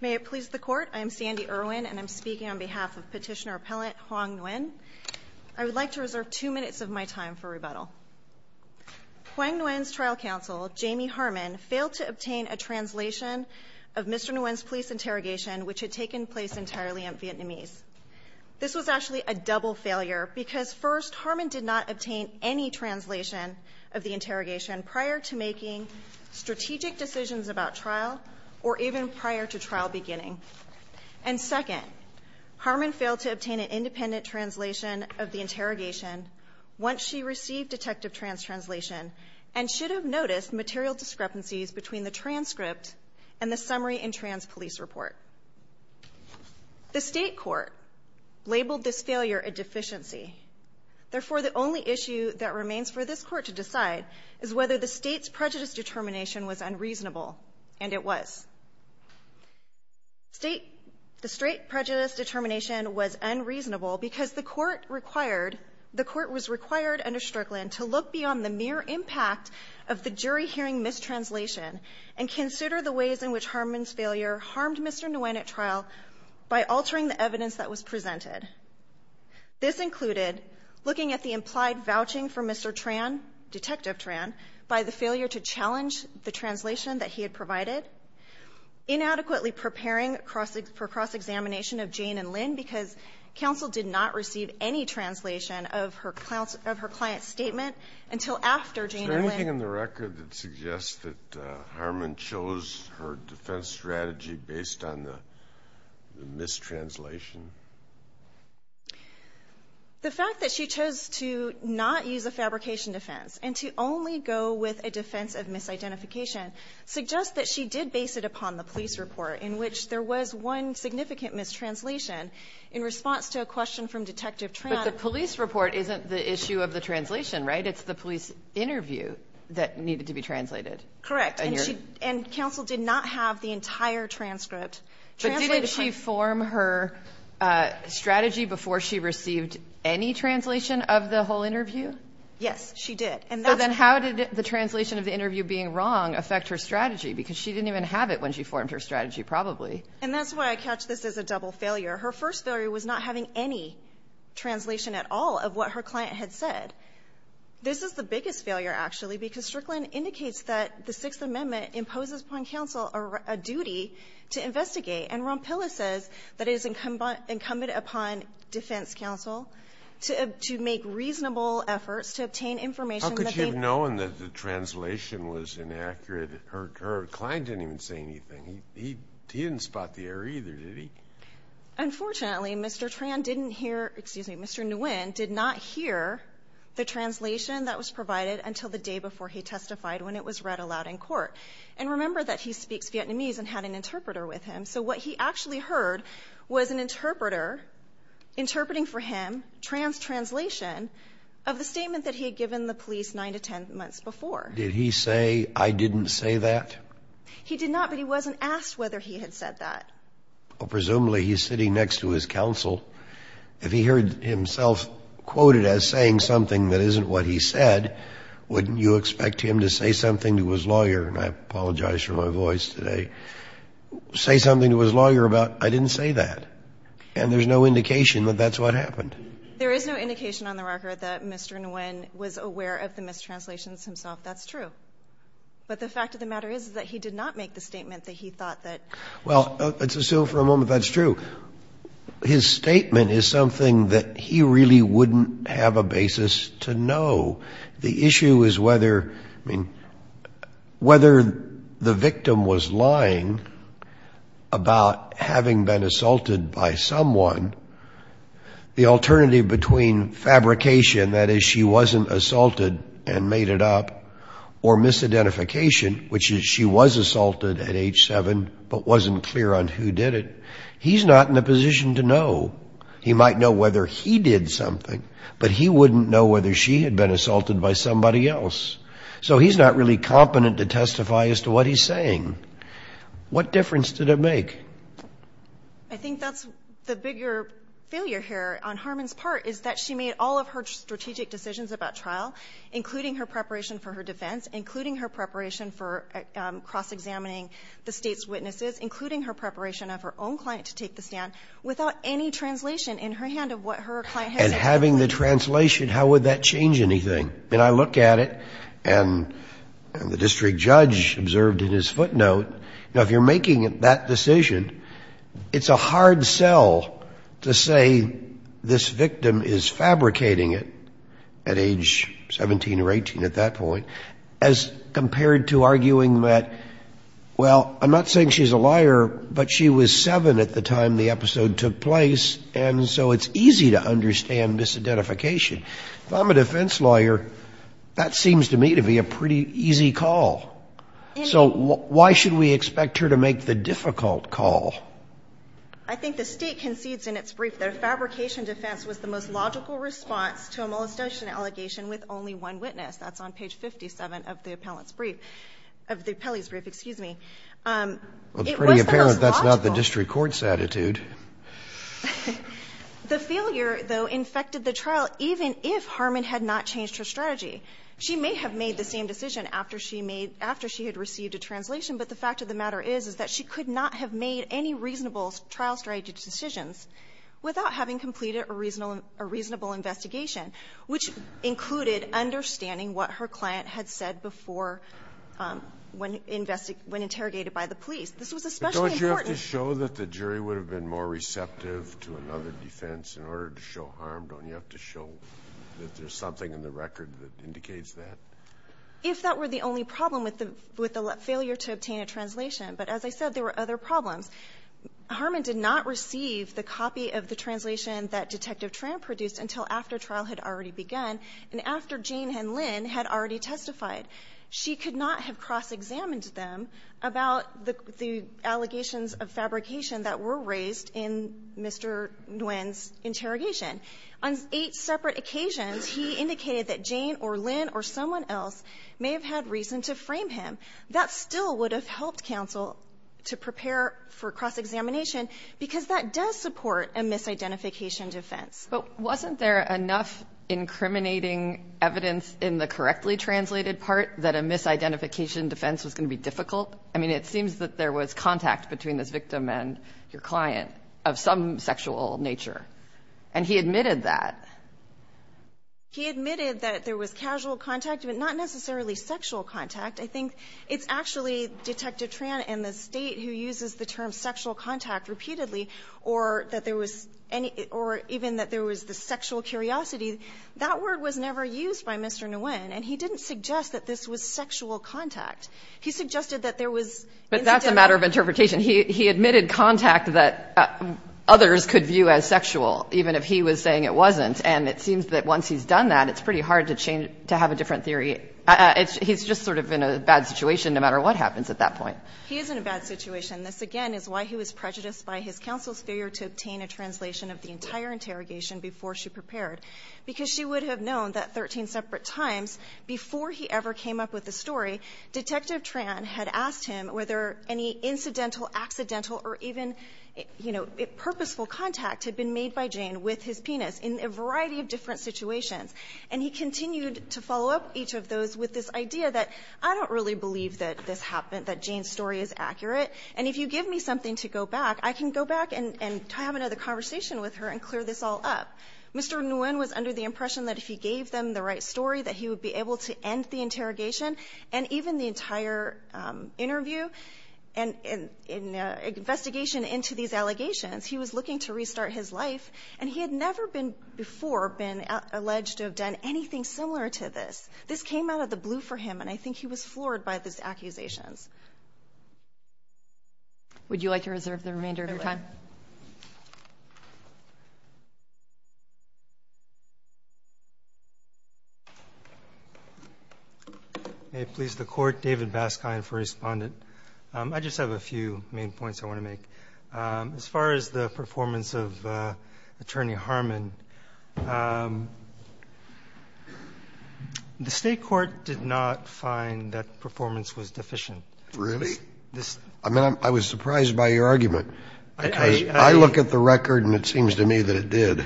May it please the court, I am Sandy Irwin and I'm speaking on behalf of petitioner appellant Hoang Nguyen. I would like to reserve two minutes of my time for rebuttal. Hoang Nguyen's trial counsel Jamie Harman failed to obtain a translation of Mr. Nguyen's police interrogation which had taken place entirely in Vietnamese. This was actually a double failure because first Harman did not obtain any translation of the interrogation prior to making strategic decisions about trial or even prior to trial beginning and second Harman failed to obtain an independent translation of the interrogation once she received detective trans translation and should have noticed material discrepancies between the transcript and the summary in trans police report. The state court labeled this failure a deficiency therefore the only issue that remains for this court to decide is whether the state's prejudice determination was unreasonable and it was. State the straight prejudice determination was unreasonable because the court required the court was required under Strickland to look beyond the mere impact of the jury hearing mistranslation and consider the ways in which Harman's failure harmed Mr. Nguyen at trial by altering the evidence that was presented. This included looking at the implied vouching for Mr. Tran, detective Tran, by the failure to challenge the translation that he had provided. Inadequately preparing for cross-examination of Jane and Lynn because counsel did not receive any translation of her client's statement until after Jane and Lynn. Is there anything in the record that suggests that Harman chose her defense strategy based on the mistranslation? The fact that she chose to not use a fabrication defense and to only go with a defense of misidentification suggests that she did base it upon the police report in which there was one significant mistranslation in response to a question from detective Tran. But the police report isn't the issue of the translation, right? It's the police interview that needed to be translated. Correct. And counsel did not have the entire transcript. But didn't she form her strategy before she received any translation of the whole interview? Yes, she did. And then how did the translation of the interview being wrong affect her strategy? Because she didn't even have it when she formed her strategy probably. And that's why I catch this as a double failure. Her first failure was not having any translation at all of what her client had said. This is the biggest failure actually because Strickland indicates that the Sixth Amendment imposes upon counsel a duty to investigate. And Ronpilla says that it is incumbent upon defense counsel to make reasonable efforts to obtain information that they How could she have known that the translation was inaccurate? Her client didn't even say anything. He didn't spot the error either, did he? Unfortunately, Mr. Tran didn't hear, excuse me, Mr. Nguyen did not hear the translation that was provided until the day before he testified when it was read aloud in court. And remember that he speaks Vietnamese and had an interpreter with him. So what he actually heard was an interpreter interpreting for him trans translation of the statement that he had given the police nine to ten months before. Did he say, I didn't say that? He did not, but he wasn't asked whether he had said that. Well, presumably he's sitting next to his counsel. If he heard himself quoted as saying something that isn't what he said, wouldn't you expect him to say something to his lawyer? And I apologize for my voice today. Say something to his lawyer about I didn't say that. And there's no indication that that's what happened. There is no indication on the record that Mr. Nguyen was aware of the mistranslations himself. That's true. But the fact of the matter is that he did not make the statement that he thought that Well, let's assume for a moment that's true. His statement is something that he really wouldn't have a basis to know. The issue is whether, I mean, whether the victim was lying about having been assaulted by someone. The alternative between fabrication, that is she wasn't assaulted and made it up, or misidentification, which is she was assaulted at age seven, but wasn't clear on who did it. He's not in a position to know. He might know whether he did something, but he wouldn't know whether she had been assaulted by somebody else. So he's not really competent to testify as to what he's saying. What difference did it make? I think that's the bigger failure here on Harmon's part, is that she made all of her strategic decisions about trial, including her preparation for her defense, including her preparation for cross-examining the state's witnesses, including her preparation of her own client to take the stand, without any translation in her hand of what her client had said. And having the translation, how would that change anything? I mean, I look at it, and the district judge observed in his footnote, you know, if you're making that decision, it's a hard sell to say this victim is fabricating it at age 17 or 18 at that point, as compared to arguing that, well, I'm not saying she's a liar, but she was seven at the time the episode took place, and so it's easy to understand misidentification. If I'm a defense lawyer, that seems to me to be a pretty easy call. So why should we expect her to make the difficult call? I think the State concedes in its brief that a fabrication defense was the most logical response to a molestation allegation with only one witness. That's on page 57 of the Pelley's brief, excuse me. Well, it's pretty apparent that's not the district court's attitude. The failure, though, infected the trial, even if Harmon had not changed her strategy. She may have made the same decision after she had received a translation, but the fact of the matter is that she could not have made any reasonable trial strategy decisions without having completed a reasonable investigation, which included understanding what her client had said before when interrogated by the police. This was especially important. Don't you have to show that the jury would have been more receptive to another defense in order to show harm? Don't you have to show that there's something in the record that indicates that? If that were the only problem with the failure to obtain a translation. But as I said, there were other problems. Harmon did not receive the copy of the translation that Detective Tran produced until after trial had already begun and after Jane and Lynn had already testified. She could not have cross-examined them about the allegations of fabrication that were raised in Mr. Nguyen's interrogation. On eight separate occasions, he indicated that Jane or Lynn or someone else may have had reason to frame him. That still would have helped counsel to prepare for cross-examination because that does support a misidentification defense. But wasn't there enough incriminating evidence in the correctly translated part that a misidentification defense was going to be difficult? I mean, it seems that there was contact between this victim and your client of some sexual nature. And he admitted that. He admitted that there was casual contact, but not necessarily sexual contact. I think it's actually Detective Tran and the State who uses the term sexual contact repeatedly or that there was any or even that there was the sexual curiosity. That word was never used by Mr. Nguyen, and he didn't suggest that this was sexual contact. He suggested that there was incidental. But that's a matter of interpretation. He admitted contact that others could view as sexual, even if he was saying it wasn't. And it seems that once he's done that, it's pretty hard to change to have a different theory. He's just sort of in a bad situation no matter what happens at that point. He is in a bad situation. This, again, is why he was prejudiced by his counsel's failure to obtain a translation of the entire interrogation before she prepared, because she would have known that 13 separate times before he ever came up with the story, Detective Tran had asked him whether any incidental, accidental, or even, you know, purposeful contact had been made by Jane with his penis in a variety of different situations. And he continued to follow up each of those with this idea that, I don't really believe that this happened, that Jane's story is accurate. And if you give me something to go back, I can go back and have another conversation with her and clear this all up. Mr. Nguyen was under the impression that if he gave them the right story, that he would be able to end the interrogation and even the entire interview and investigation into these allegations. He was looking to restart his life, and he had never been before been alleged to have done anything similar to this. This came out of the blue for him, and I think he was floored by these accusations. Would you like to reserve the remainder of your time? May it please the Court, David Baskine for Respondent. I just have a few main points I want to make. As far as the performance of Attorney Harmon, the State Court did not find that performance was deficient. Really? I mean, I was surprised by your argument. I look at the record and it seems to me that it did.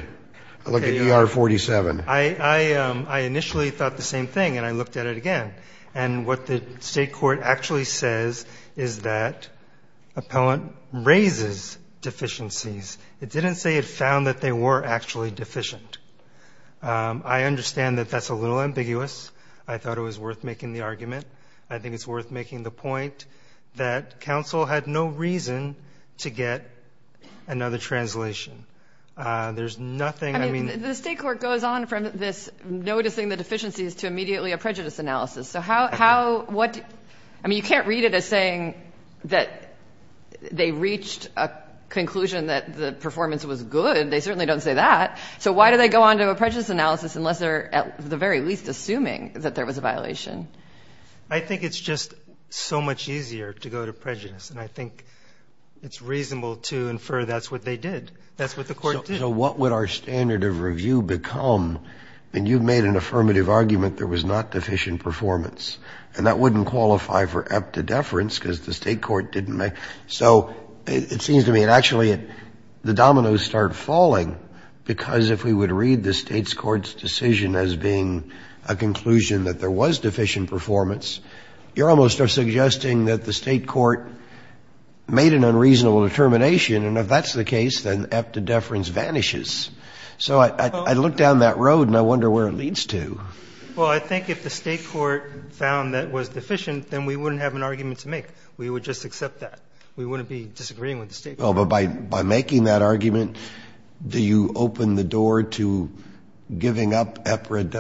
I look at ER 47. I initially thought the same thing, and I looked at it again. And what the State Court actually says is that appellant raises deficiencies. It didn't say it found that they were actually deficient. I understand that that's a little ambiguous. I thought it was worth making the argument. I think it's worth making the point that counsel had no reason to get another translation. There's nothing I mean, the State Court goes on from this, noticing the deficiencies to immediately a prejudice analysis. So how, what? I mean, you can't read it as saying that they reached a conclusion that the performance was good. They certainly don't say that. So why do they go on to a prejudice analysis unless they're at the very least assuming that there was a violation? I think it's just so much easier to go to prejudice. And I think it's reasonable to infer that's what they did. That's what the Court did. So what would our standard of review become? And you've made an affirmative argument there was not deficient performance. And that wouldn't qualify for epta deference because the State Court didn't make. So it seems to me, actually, the as if we would read the State's Court's decision as being a conclusion that there was deficient performance, you're almost suggesting that the State Court made an unreasonable determination. And if that's the case, then epta deference vanishes. So I look down that road and I wonder where it leads to. Well, I think if the State Court found that was deficient, then we wouldn't have an argument to make. We would just accept that. We wouldn't be disagreeing with the State Court. Well, but by making that argument, do you open the door to giving up epta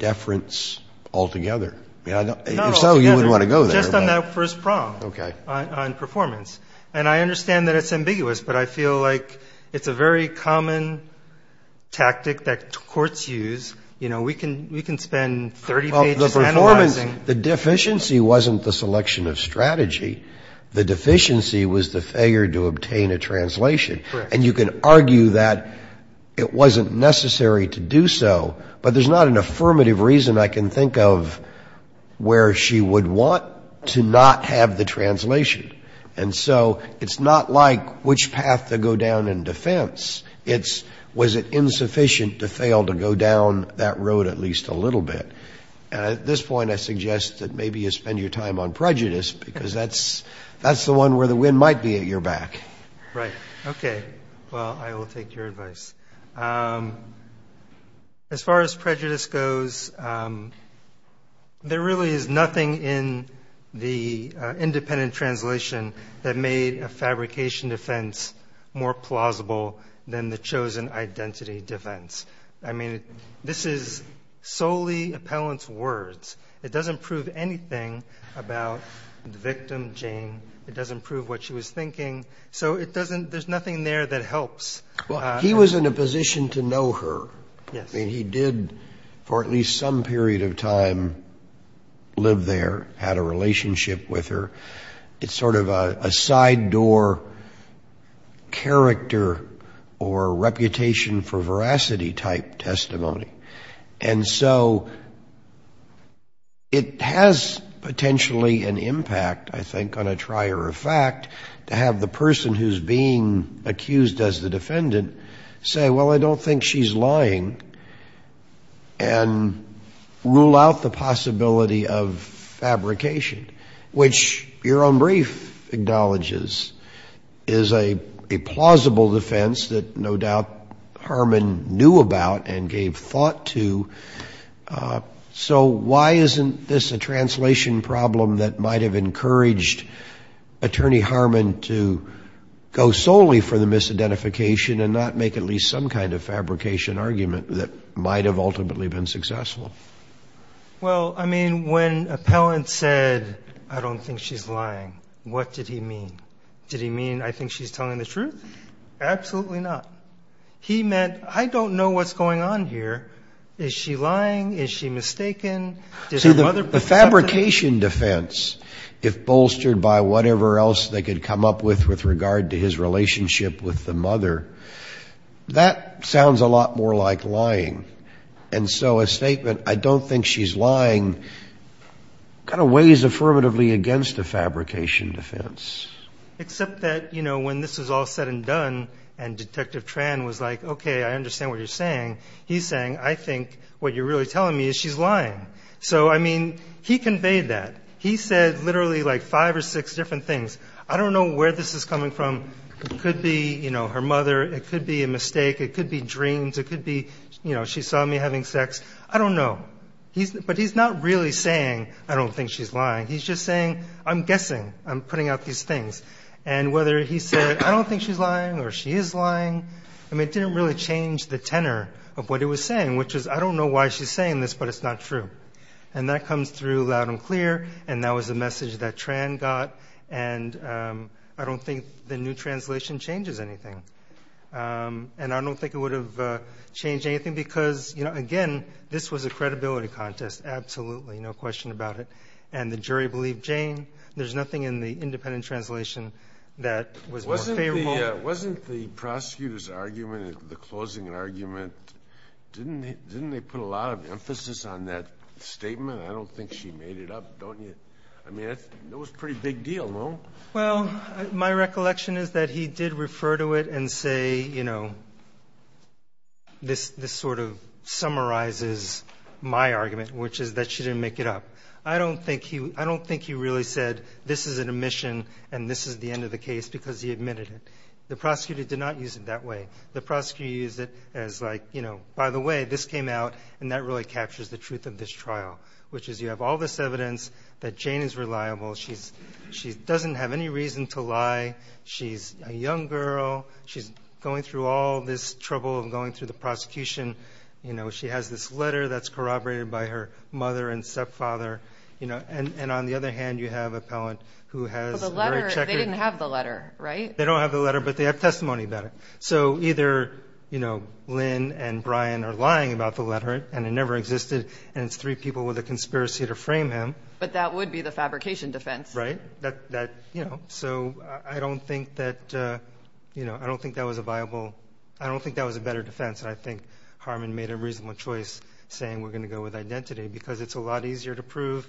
deference altogether? If so, you wouldn't want to go there. Just on that first prong on performance. And I understand that it's ambiguous, but I feel like it's a very common tactic that courts use. You know, we can spend 30 pages analyzing. The deficiency wasn't the selection of strategy. The deficiency was the failure to obtain a translation. Correct. And you can argue that it wasn't necessary to do so, but there's not an affirmative reason I can think of where she would want to not have the translation. And so it's not like which path to go down in defense. It's was it insufficient to fail to go down that road at least a little bit. And at this point, I suggest that maybe you spend your time on prejudice because that's the one where the wind might be at your back. Right. Okay. Well, I will take your advice. As far as prejudice goes, there really is nothing in the independent translation that made a fabrication defense more plausible than the chosen identity defense. I mean, this is solely appellant's words. It doesn't prove anything about the victim, Jane. It doesn't prove what she was thinking. So it doesn't, there's nothing there that helps. Well, he was in a position to know her. Yes. I mean, he did for at least some period of time live there, had a relationship with her. It's sort of a side door character or reputation for veracity type testimony. And so it has potentially an impact, I think, on a trier of fact to have the person who's being accused as the defendant say, well, I don't think she's lying and rule out the truth. Which your own brief acknowledges is a plausible defense that no doubt Harman knew about and gave thought to. So why isn't this a translation problem that might have encouraged Attorney Harman to go solely for the misidentification and not make at least some kind of fabrication argument that might have ultimately been successful? Well, I mean, when appellant said, I don't think she's lying, what did he mean? Did he mean, I think she's telling the truth? Absolutely not. He meant, I don't know what's going on here. Is she lying? Is she mistaken? So the fabrication defense, if bolstered by whatever else they could come up with, with regard to his relationship with the mother, that sounds a lot more like lying. And so a statement, I don't think she's lying, kind of weighs affirmatively against a fabrication defense. Except that, you know, when this was all said and done and Detective Tran was like, okay, I understand what you're saying. He's saying, I think what you're really telling me is she's lying. So, I mean, he conveyed that. He said literally like five or six different things. I don't know where this is coming from. It could be, you know, her mother. It could be a mistake. It could be dreams. It could be, you know, she saw me having sex. I don't know. But he's not really saying, I don't think she's lying. He's just saying, I'm guessing I'm putting out these things. And whether he said, I don't think she's lying or she is lying. I mean, it didn't really change the tenor of what he was saying, which was, I don't know why she's saying this, but it's not true. And that comes through loud and clear. And that was the message that Tran got. And I don't think the new translation changes anything. And I don't think it would have changed anything because, you know, again, this was a credibility contest. Absolutely. No question about it. And the jury believed Jane. There's nothing in the independent translation that was more favorable. Wasn't the prosecutor's argument, the closing argument, didn't they put a lot of emphasis on that statement? I don't think she made it up, don't you? I mean, it was a pretty big deal, no? Well, my recollection is that he did refer to it and say, you know, this sort of summarizes my argument, which is that she didn't make it up. I don't think he really said this is an omission and this is the end of the case because he admitted it. The prosecutor did not use it that way. The prosecutor used it as like, you know, by the way, this came out and that really captures the truth of this trial, which is you have all this evidence that Jane is reliable. She's she doesn't have any reason to lie. She's a young girl. She's going through all this trouble and going through the prosecution. You know, she has this letter that's corroborated by her mother and stepfather, you know, and on the other hand, you have a palant who has the letter. They didn't have the letter, right? They don't have the letter, but they have testimony about it. So either, you know, Lynn and Brian are lying about the letter and it never existed. And it's three people with a conspiracy to frame him. But that would be the fabrication defense, right? That that, you know, so I don't think that, you know, I don't think that was a viable I don't think that was a better defense. And I think Harmon made a reasonable choice saying we're going to go with identity because it's a lot easier to prove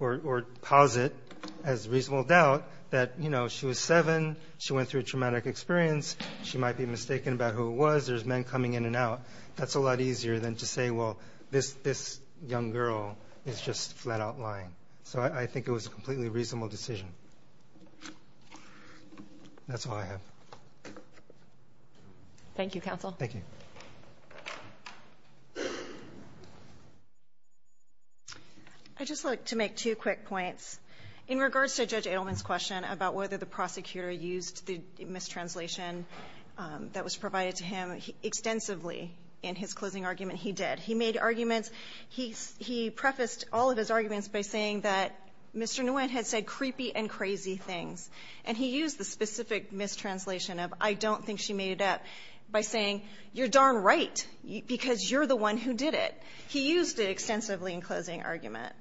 or posit as reasonable doubt that, you know, she was seven. She went through a traumatic experience. She might be mistaken about who it was. There's men coming in and out. That's a lot easier than to say, well, this this young girl is just flat out lying. So I think it was a completely reasonable decision. That's all I have. Thank you, counsel. Thank you. I just like to make two quick points in regards to Judge Edelman's question about whether the prosecutor used the mistranslation that was provided to him extensively in his closing argument. He did. He made arguments. He prefaced all of his arguments by saying that Mr. Nguyen had said creepy and crazy things. And he used the specific mistranslation of I don't think she made it up by saying you're darn right because you're the one who did it. He used it extensively in closing argument.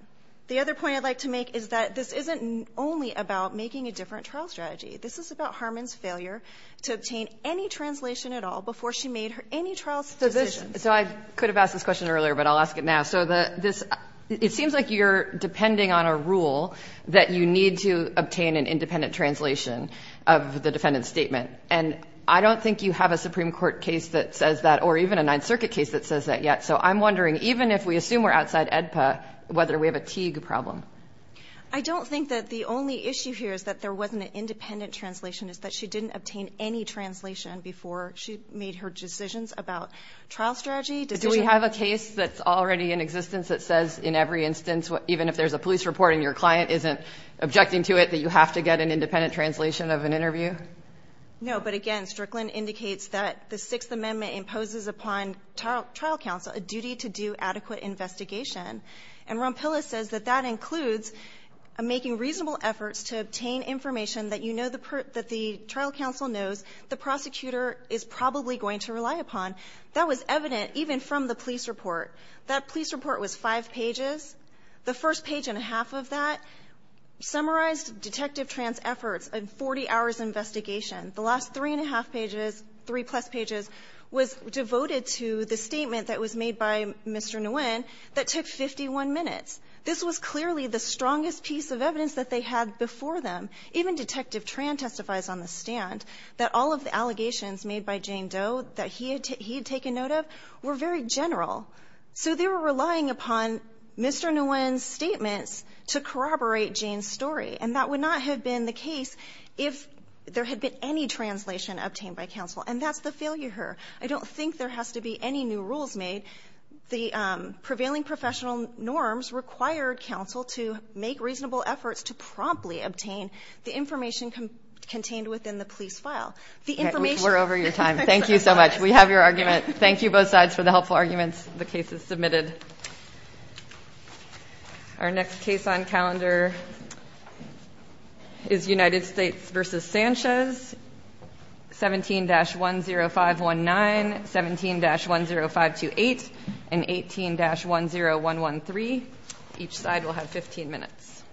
The other point I'd like to make is that this isn't only about making a different trial strategy. This is about Harmon's failure to obtain any trial decision. So I could have asked this question earlier, but I'll ask it now. So the this it seems like you're depending on a rule that you need to obtain an independent translation of the defendant's statement. And I don't think you have a Supreme Court case that says that or even a Ninth Circuit case that says that yet. So I'm wondering, even if we assume we're outside AEDPA, whether we have a Teague problem. I don't think that the only issue here is that there wasn't an independent translation, is that she didn't obtain any translation before she made her decisions about trial strategy. Do we have a case that's already in existence that says in every instance, even if there's a police report and your client isn't objecting to it, that you have to get an independent translation of an interview? No, but again, Strickland indicates that the Sixth Amendment imposes upon trial trial counsel a duty to do adequate investigation. And Rompila says that that includes making reasonable efforts to obtain information that you know that the trial counsel knows the prosecutor is probably going to rely upon. That was evident even from the police report. That police report was five pages. The first page and a half of that summarized Detective Tran's efforts, a 40-hours investigation. The last three and a half pages, three-plus pages, was devoted to the statement that was made by Mr. Nguyen that took 51 minutes. This was clearly the strongest piece of evidence that they had before them. Even Detective Tran testifies on the stand that all of the allegations made by Jane Doe that he had taken note of were very general. So they were relying upon Mr. Nguyen's statements to corroborate Jane's story. And that would not have been the case if there had been any translation obtained by counsel. And that's the failure here. I don't think there has to be any new rules made. The prevailing professional norms required counsel to make reasonable efforts to promptly obtain the information contained within the police file. We're over your time. Thank you so much. We have your argument. Thank you both sides for the helpful arguments. The case is submitted. Our next case on calendar is United States v. Sanchez, 17-10519, 17-10528. And 18-10113. Each side will have 15 minutes.